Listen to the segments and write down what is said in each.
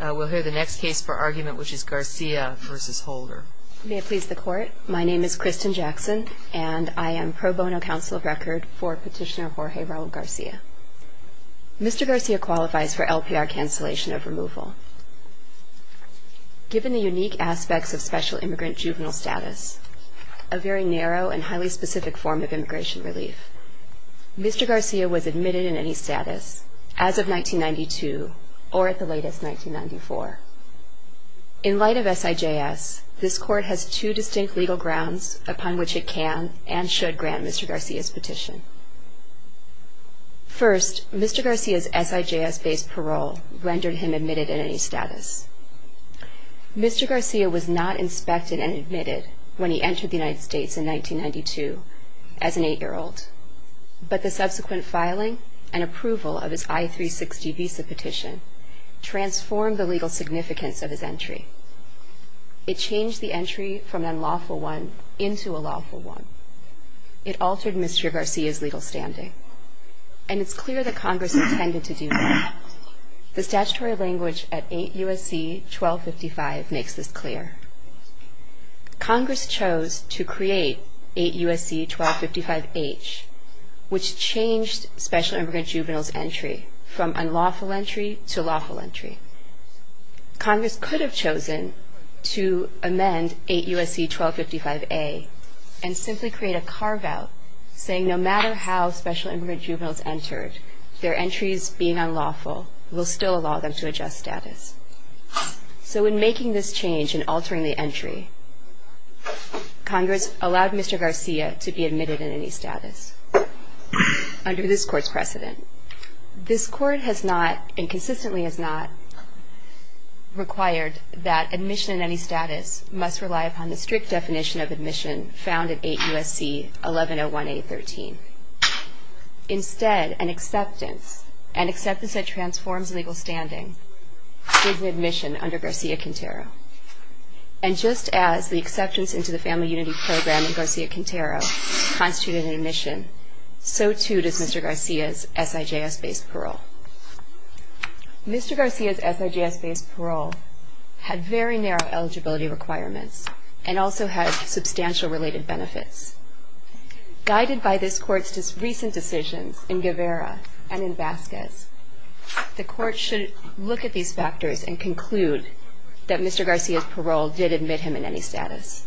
We'll hear the next case for argument, which is Garcia v. Holder. May it please the Court, my name is Kristen Jackson, and I am pro bono counsel of record for Petitioner Jorge Raul Garcia. Mr. Garcia qualifies for LPR cancellation of removal. Given the unique aspects of special immigrant juvenile status, a very narrow and highly specific form of immigration relief, Mr. Garcia was admitted in any status as of 1992 or at the latest 1994. In light of SIJS, this Court has two distinct legal grounds upon which it can and should grant Mr. Garcia's petition. First, Mr. Garcia's SIJS-based parole rendered him admitted in any status. Mr. Garcia was not inspected and admitted when he entered the United States in 1992 as an 8-year-old, but the subsequent filing and approval of his I-360 visa petition transformed the legal significance of his entry. It changed the entry from an unlawful one into a lawful one. It altered Mr. Garcia's legal standing, and it's clear that Congress intended to do that. The statutory language at 8 U.S.C. 1255 makes this clear. Congress chose to create 8 U.S.C. 1255-H, which changed special immigrant juvenile's entry from unlawful entry to lawful entry. Congress could have chosen to amend 8 U.S.C. 1255-A and simply create a carve-out saying no matter how special immigrant juveniles entered, their entries being unlawful will still allow them to adjust status. So in making this change and altering the entry, Congress allowed Mr. Garcia to be admitted in any status under this Court's precedent. This Court has not, and consistently has not, required that admission in any status must rely upon the strict definition of admission found in 8 U.S.C. 1101-A-13. Instead, an acceptance, an acceptance that transforms legal standing, is an admission under Garcia-Quintero. And just as the acceptance into the Family Unity Program in Garcia-Quintero constituted an admission, so too does Mr. Garcia's SIJS-based parole. Mr. Garcia's SIJS-based parole had very narrow eligibility requirements and also had substantial related benefits. Guided by this Court's recent decisions in Guevara and in Vasquez, the Court should look at these factors and conclude that Mr. Garcia's parole did admit him in any status.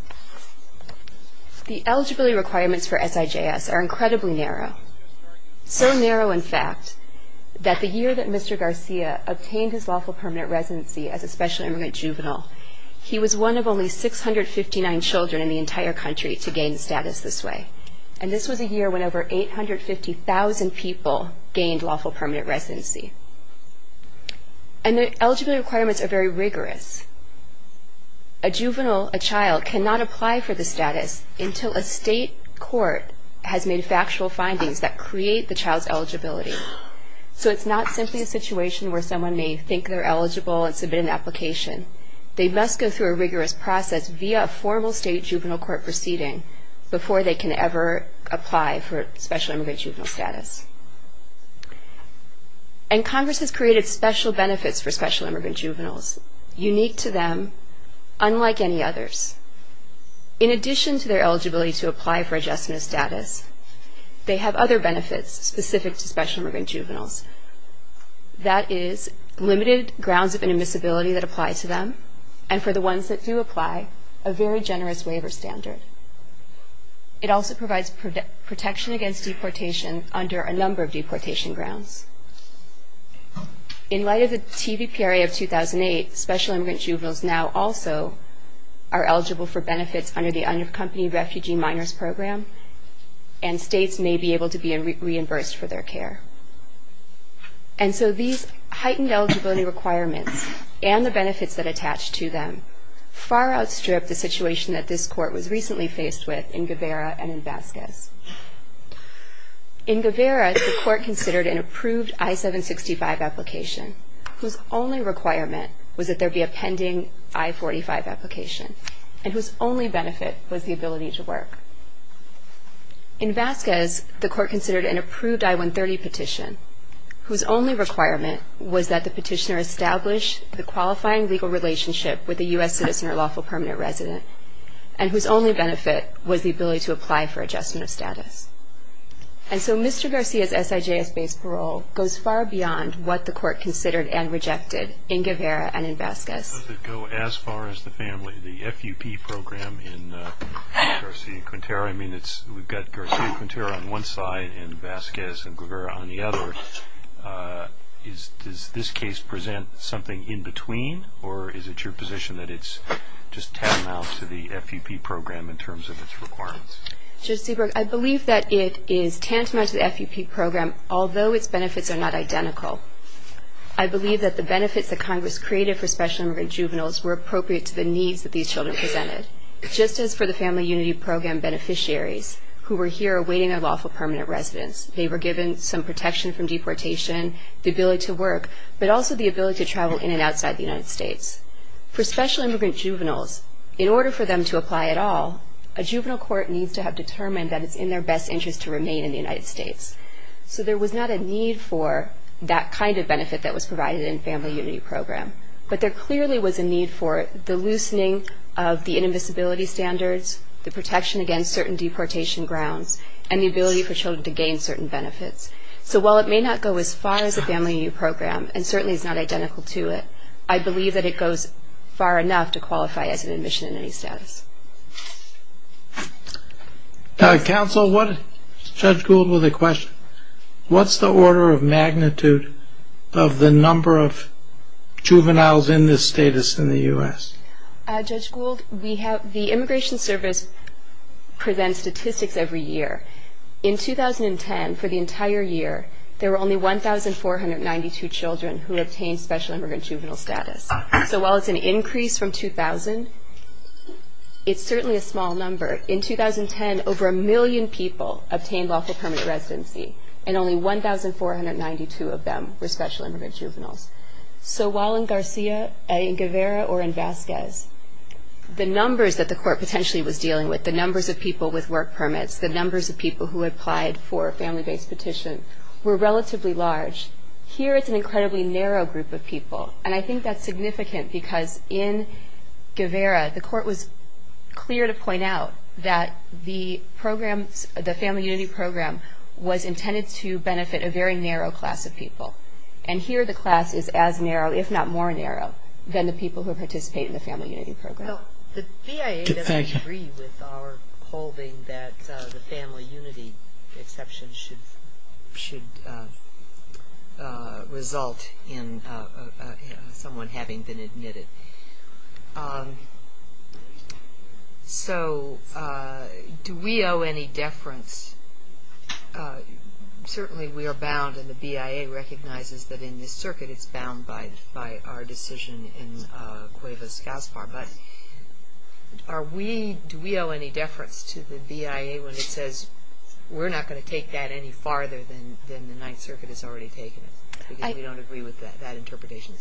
The eligibility requirements for SIJS are incredibly narrow. So narrow, in fact, that the year that Mr. Garcia obtained his lawful permanent residency as a special immigrant juvenile, he was one of only 659 children in the entire country to gain status this way. And this was a year when over 850,000 people gained lawful permanent residency. And the eligibility requirements are very rigorous. A juvenile, a child, cannot apply for the status until a state court has made factual findings that create the child's eligibility. So it's not simply a situation where someone may think they're eligible and submit an application. They must go through a rigorous process via a formal state juvenile court proceeding before they can ever apply for special immigrant juvenile status. And Congress has created special benefits for special immigrant juveniles, unique to them, unlike any others. In addition to their eligibility to apply for adjustment of status, they have other benefits specific to special immigrant juveniles. That is limited grounds of inadmissibility that apply to them, and for the ones that do apply, a very generous waiver standard. It also provides protection against deportation under a number of deportation grounds. In light of the TVPRA of 2008, special immigrant juveniles now also are eligible for benefits under the Unaccompanied Refugee Minors Program, and states may be able to be reimbursed for their care. And so these heightened eligibility requirements and the benefits that attach to them far outstrip the situation that this court was recently faced with in Guevara and in Vasquez. In Guevara, the court considered an approved I-765 application, whose only requirement was that there be a pending I-45 application, and whose only benefit was the ability to work. In Vasquez, the court considered an approved I-130 petition, whose only requirement was that the petitioner establish the qualifying legal relationship with a U.S. citizen or lawful permanent resident, and whose only benefit was the ability to apply for adjustment of status. And so Mr. Garcia's SIJS-based parole goes far beyond what the court considered and rejected in Guevara and in Vasquez. Does it go as far as the family, the FUP program in Garcia and Quintero? I mean, we've got Garcia and Quintero on one side and Vasquez and Guevara on the other. Does this case present something in between, or is it your position that it's just tantamount to the FUP program in terms of its requirements? Judge Seabrook, I believe that it is tantamount to the FUP program, although its benefits are not identical. I believe that the benefits that Congress created for special immigrant juveniles were appropriate to the needs that these children presented. Just as for the Family Unity Program beneficiaries who were here awaiting a lawful permanent residence. They were given some protection from deportation, the ability to work, but also the ability to travel in and outside the United States. For special immigrant juveniles, in order for them to apply at all, a juvenile court needs to have determined that it's in their best interest to remain in the United States. So there was not a need for that kind of benefit that was provided in the Family Unity Program. But there clearly was a need for the loosening of the inadmissibility standards, the protection against certain deportation grounds, and the ability for children to gain certain benefits. So while it may not go as far as the Family Unity Program, and certainly is not identical to it, I believe that it goes far enough to qualify as an admission in any status. Counsel, Judge Gould with a question. What's the order of magnitude of the number of juveniles in this status in the U.S.? Judge Gould, the Immigration Service presents statistics every year. In 2010, for the entire year, there were only 1,492 children who obtained special immigrant juvenile status. So while it's an increase from 2,000, it's certainly a small number. In 2010, over a million people obtained lawful permanent residency, and only 1,492 of them were special immigrant juveniles. So while in Garcia, in Guevara, or in Vasquez, the numbers that the court potentially was dealing with, the numbers of people with work permits, the numbers of people who applied for a family-based petition, were relatively large. Here, it's an incredibly narrow group of people. And I think that's significant because in Guevara, the court was clear to point out that the Family Unity Program was intended to benefit a very narrow class of people. And here, the class is as narrow, if not more narrow, than the people who participate in the Family Unity Program. The BIA doesn't agree with our holding that the Family Unity exception should result in someone having been admitted. So do we owe any deference? Certainly, we are bound, and the BIA recognizes that in this circuit, it's bound by our decision in Cuevas-Gaspar. But do we owe any deference to the BIA when it says, we're not going to take that any farther than the Ninth Circuit has already taken it? Because we don't agree with that interpretation.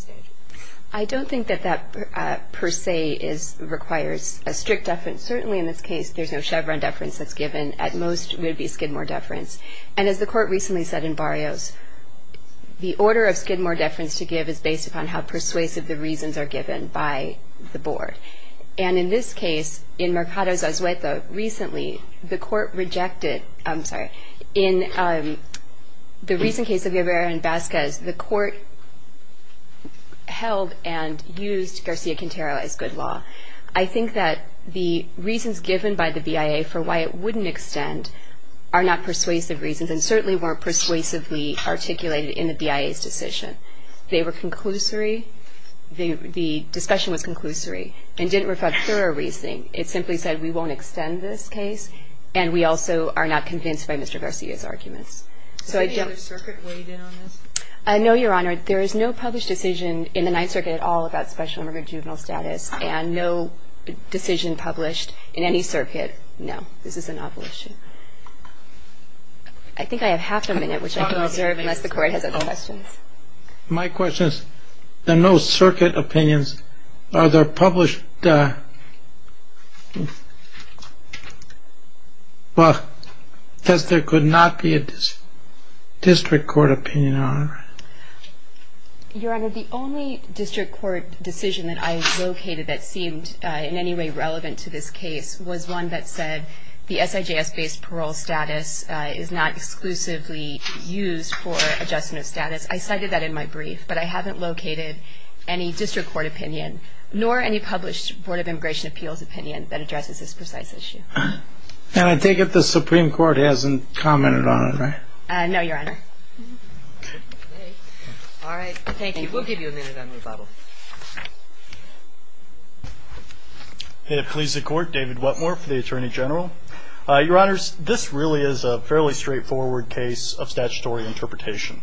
I don't think that that, per se, requires a strict deference. Certainly, in this case, there's no Chevron deference that's given. At most, it would be Skidmore deference. And as the court recently said in Barrios, the order of Skidmore deference to give is based upon how persuasive the reasons are given by the board. And in this case, in Mercados Azueto, recently, the court rejected... I'm sorry. In the recent case of Rivera and Vasquez, the court held and used Garcia-Quintero as good law. I think that the reasons given by the BIA for why it wouldn't extend are not persuasive reasons, and certainly weren't persuasively articulated in the BIA's decision. They were conclusory. The discussion was conclusory and didn't refer to thorough reasoning. It simply said, we won't extend this case, and we also are not convinced by Mr. Garcia's arguments. So I don't... Is there any other circuit weighed in on this? No, Your Honor. There is no published decision in the Ninth Circuit at all about special immigrant juvenile status, and no decision published in any circuit. No. This is an opposition. I think I have half a minute, which I can reserve unless the court has other questions. My question is, there are no circuit opinions. Are there published... Well, it says there could not be a district court opinion, Your Honor. Your Honor, the only district court decision that I located that seemed in any way relevant to this case was one that said the SIJS-based parole status is not exclusively used for adjustment of status. I cited that in my brief, but I haven't located any district court opinion, nor any published Board of Immigration Appeals opinion that addresses this precise issue. And I take it the Supreme Court hasn't commented on it, right? No, Your Honor. All right. Thank you. We'll give you a minute on rebuttal. I have pleased the Court. David Whatmore for the Attorney General. Your Honors, this really is a fairly straightforward case of statutory interpretation.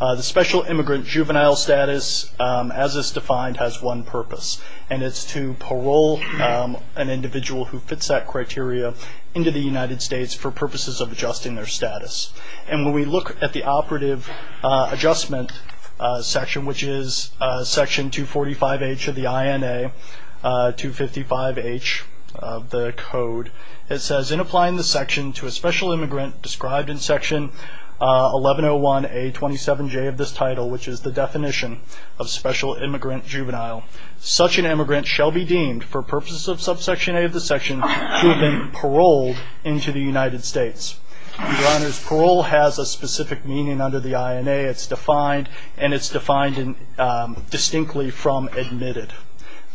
The special immigrant juvenile status, as is defined, has one purpose, and it's to parole an individual who fits that criteria into the United States for purposes of adjusting their status. And when we look at the operative adjustment section, which is section 245H of the INA, 255H of the Code, it says in applying the section to a special immigrant described in section 1101A27J of this title, which is the definition of special immigrant juvenile, such an immigrant shall be deemed for purposes of subsection A of the section to have been paroled into the United States. Your Honors, parole has a specific meaning under the INA. It's defined, and it's defined distinctly from admitted.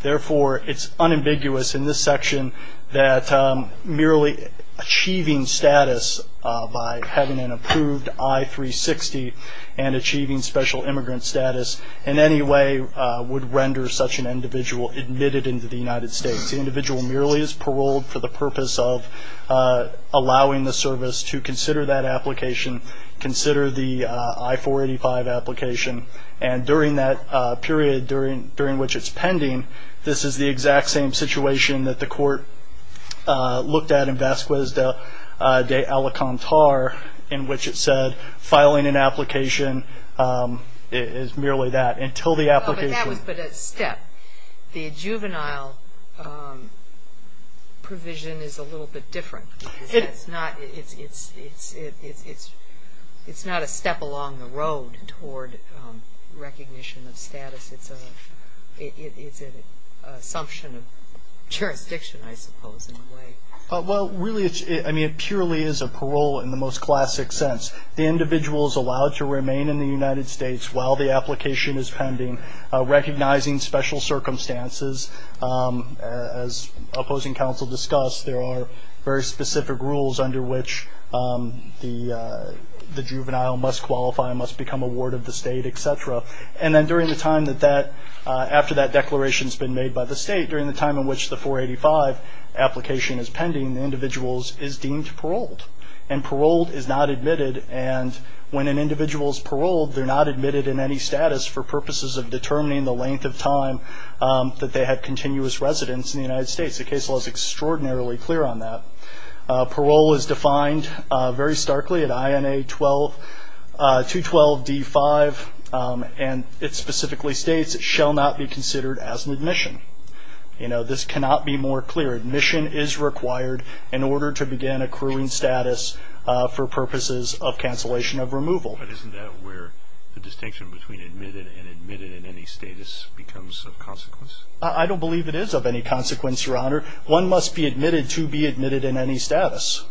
Therefore, it's unambiguous in this section that merely achieving status by having an approved I-360 and achieving special immigrant status in any way would render such an individual admitted into the United States. The individual merely is paroled for the purpose of allowing the service to consider that application, consider the I-485 application, and during that period during which it's pending, this is the exact same situation that the court looked at in Vasquez de Alicantar in which it said filing an application is merely that until the application. But that was but a step. The juvenile provision is a little bit different. It's not a step along the road toward recognition of status. It's an assumption of jurisdiction, I suppose, in a way. Well, really, I mean, it purely is a parole in the most classic sense. The individual is allowed to remain in the United States while the application is pending, recognizing special circumstances. As opposing counsel discussed, there are very specific rules under which the juvenile must qualify, must become a ward of the state, et cetera. And then during the time after that declaration has been made by the state, during the time in which the 485 application is pending, the individual is deemed paroled. And paroled is not admitted, and when an individual is paroled, they're not admitted in any status for purposes of determining the length of time that they had continuous residence in the United States. The case law is extraordinarily clear on that. Parole is defined very starkly at INA 212D5, and it specifically states it shall not be considered as an admission. You know, this cannot be more clear. Admission is required in order to begin accruing status for purposes of cancellation of removal. But isn't that where the distinction between admitted and admitted in any status becomes of consequence? I don't believe it is of any consequence, Your Honor. One must be admitted to be admitted in any status.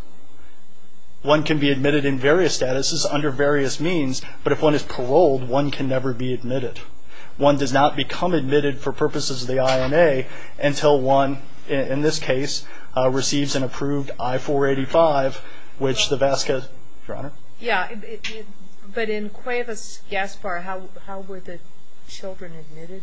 One can be admitted in various statuses under various means, but if one is paroled, one can never be admitted. One does not become admitted for purposes of the INA until one, in this case, receives an approved I-485, which the VASCA, Your Honor? Yeah, but in Cuevas-Gaspar, how were the children admitted?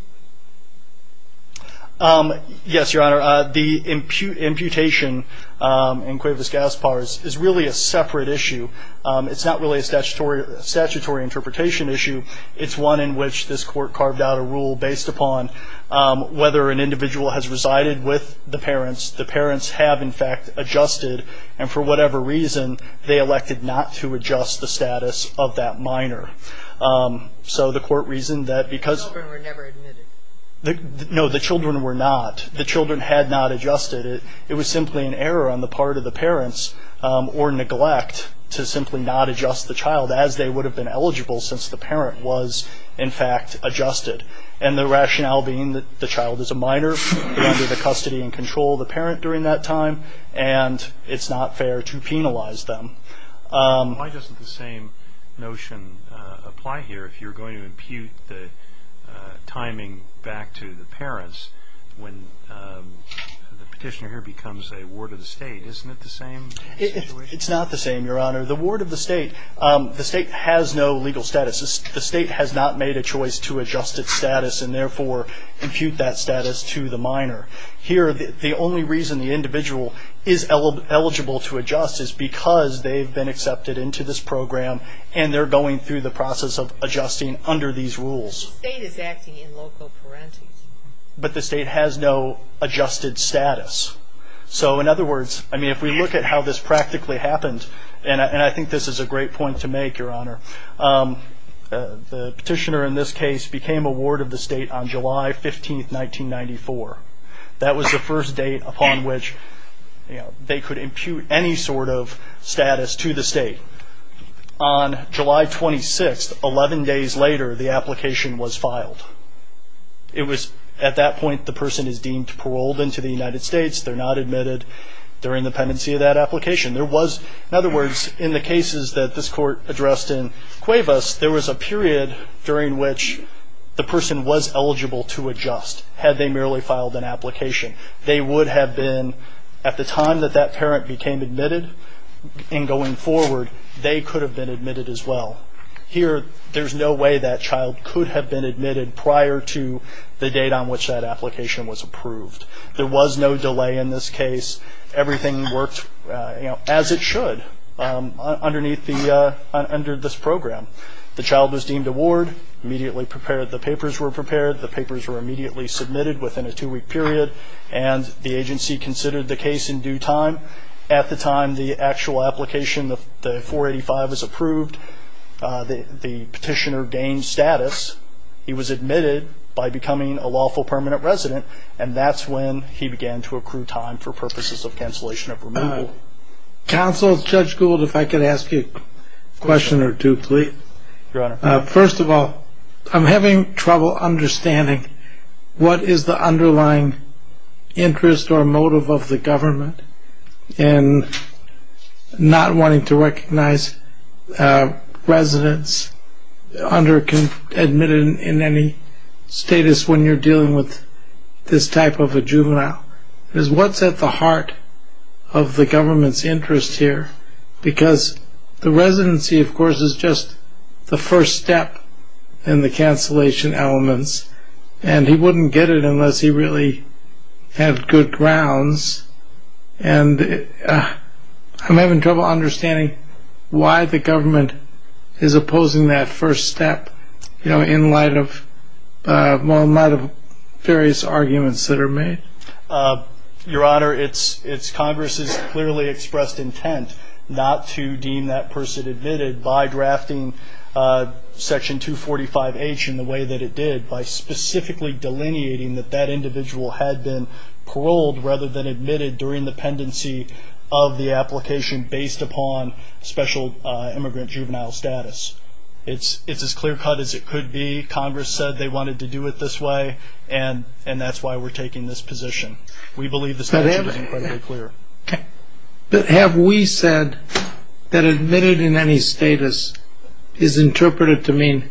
Yes, Your Honor. The imputation in Cuevas-Gaspar is really a separate issue. It's not really a statutory interpretation issue. It's one in which this Court carved out a rule based upon whether an individual has resided with the parents, the parents have, in fact, adjusted, and for whatever reason they elected not to adjust the status of that minor. So the Court reasoned that because the children were not, the children had not adjusted. It was simply an error on the part of the parents or neglect to simply not adjust the child, as they would have been eligible since the parent was, in fact, adjusted. And the rationale being that the child is a minor, they're under the custody and control of the parent during that time, and it's not fair to penalize them. Why doesn't the same notion apply here if you're going to impute the timing back to the parents when the petitioner here becomes a ward of the state? Isn't it the same situation? It's not the same, Your Honor. The ward of the state, the state has no legal status. The state has not made a choice to adjust its status and, therefore, impute that status to the minor. Here, the only reason the individual is eligible to adjust is because they've been accepted into this program and they're going through the process of adjusting under these rules. The state is acting in loco parentis. But the state has no adjusted status. So, in other words, I mean, if we look at how this practically happened, and I think this is a great point to make, Your Honor, the petitioner in this case became a ward of the state on July 15, 1994. That was the first date upon which they could impute any sort of status to the state. On July 26, 11 days later, the application was filed. At that point, the person is deemed paroled into the United States. They're not admitted. They're in the pendency of that application. There was, in other words, in the cases that this Court addressed in Cuevas, there was a period during which the person was eligible to adjust, had they merely filed an application. They would have been, at the time that that parent became admitted and going forward, they could have been admitted as well. Here, there's no way that child could have been admitted prior to the date on which that application was approved. There was no delay in this case. Everything worked as it should under this program. The child was deemed a ward, immediately prepared. The papers were prepared. The papers were immediately submitted within a two-week period, and the agency considered the case in due time. At the time the actual application, the 485, was approved, the petitioner gained status. He was admitted by becoming a lawful permanent resident, and that's when he began to accrue time for purposes of cancellation of removal. Counsel, Judge Gould, if I could ask you a question or two, please. Your Honor. First of all, I'm having trouble understanding what is the underlying interest or motive of the government in not wanting to recognize residents under-admitted in any status when you're dealing with this type of a juvenile. What's at the heart of the government's interest here? Because the residency, of course, is just the first step in the cancellation elements, and he wouldn't get it unless he really had good grounds. And I'm having trouble understanding why the government is opposing that first step, you know, in light of various arguments that are made. Your Honor, it's Congress's clearly expressed intent not to deem that person admitted by drafting Section 245H in the way that it did, by specifically delineating that that individual had been paroled rather than admitted during the pendency of the application based upon special immigrant juvenile status. It's as clear-cut as it could be. Congress said they wanted to do it this way, and that's why we're taking this position. We believe the statute is incredibly clear. But have we said that admitted in any status is interpreted to mean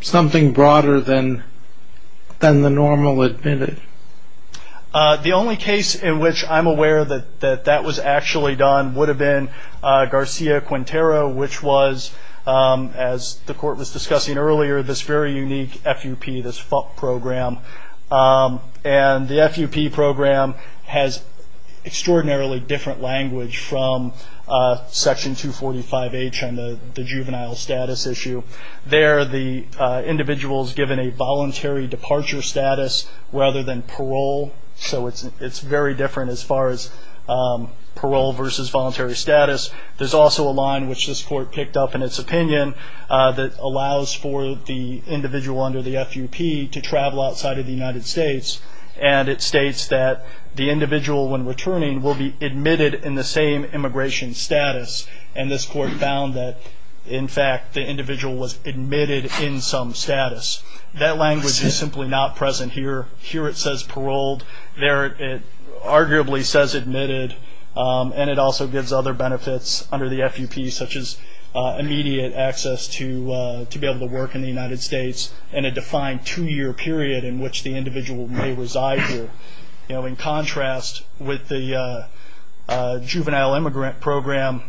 something broader than the normal admitted? The only case in which I'm aware that that was actually done would have been Garcia-Quintero, which was, as the Court was discussing earlier, this very unique FUP, this FUP program. And the FUP program has extraordinarily different language from Section 245H on the juvenile status issue. There, the individual is given a voluntary departure status rather than parole, so it's very different as far as parole versus voluntary status. There's also a line, which this Court picked up in its opinion, that allows for the individual under the FUP to travel outside of the United States. And it states that the individual, when returning, will be admitted in the same immigration status. And this Court found that, in fact, the individual was admitted in some status. That language is simply not present here. Here it says paroled. There it arguably says admitted. And it also gives other benefits under the FUP, such as immediate access to be able to work in the United States in a defined two-year period in which the individual may reside here. In contrast with the juvenile immigrant program,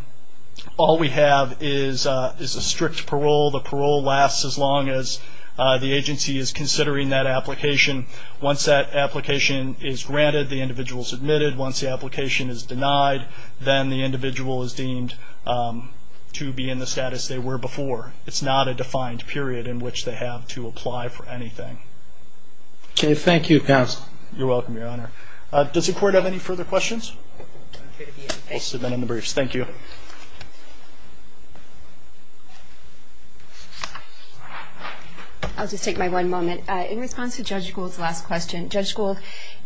all we have is a strict parole. The parole lasts as long as the agency is considering that application. Once that application is granted, the individual is admitted. Once the application is denied, then the individual is deemed to be in the status they were before. It's not a defined period in which they have to apply for anything. Okay. Thank you, counsel. You're welcome, Your Honor. Does the Court have any further questions? We'll submit them in the briefs. Thank you. I'll just take my one moment. In response to Judge Gould's last question, Judge Gould,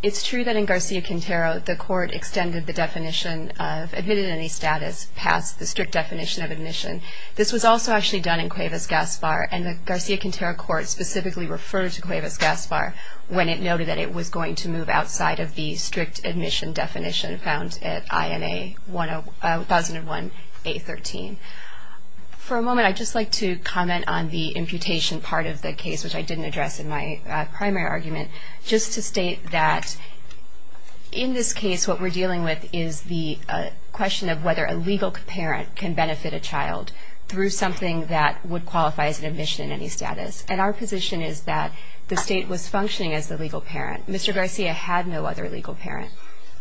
it's true that in Garcia-Quintero the Court extended the definition of admitted in any status past the strict definition of admission. This was also actually done in Cuevas-Gaspar, and the Garcia-Quintero Court specifically referred to Cuevas-Gaspar when it noted that it was going to move outside of the strict admission definition found at INA 1001A13. For a moment I'd just like to comment on the imputation part of the case, which I didn't address in my primary argument, just to state that in this case what we're dealing with is the question of whether a legal parent can benefit a child through something that would qualify as an admission in any status. And our position is that the state was functioning as the legal parent. Mr. Garcia had no other legal parent,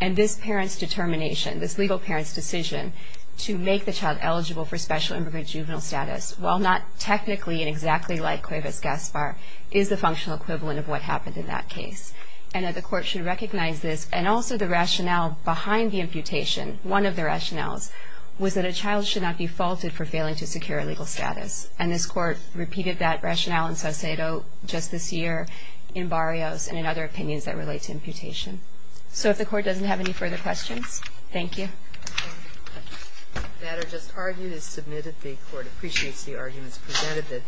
and this parent's determination, this legal parent's decision to make the child eligible for special immigrant juvenile status, while not technically and exactly like Cuevas-Gaspar, is the functional equivalent of what happened in that case. And that the Court should recognize this, and also the rationale behind the imputation, one of the rationales was that a child should not be faulted for failing to secure a legal status. And this Court repeated that rationale in Saucedo just this year, in Barrios, and in other opinions that relate to imputation. So if the Court doesn't have any further questions, thank you. The matter just argued is submitted. The Court appreciates the arguments presented.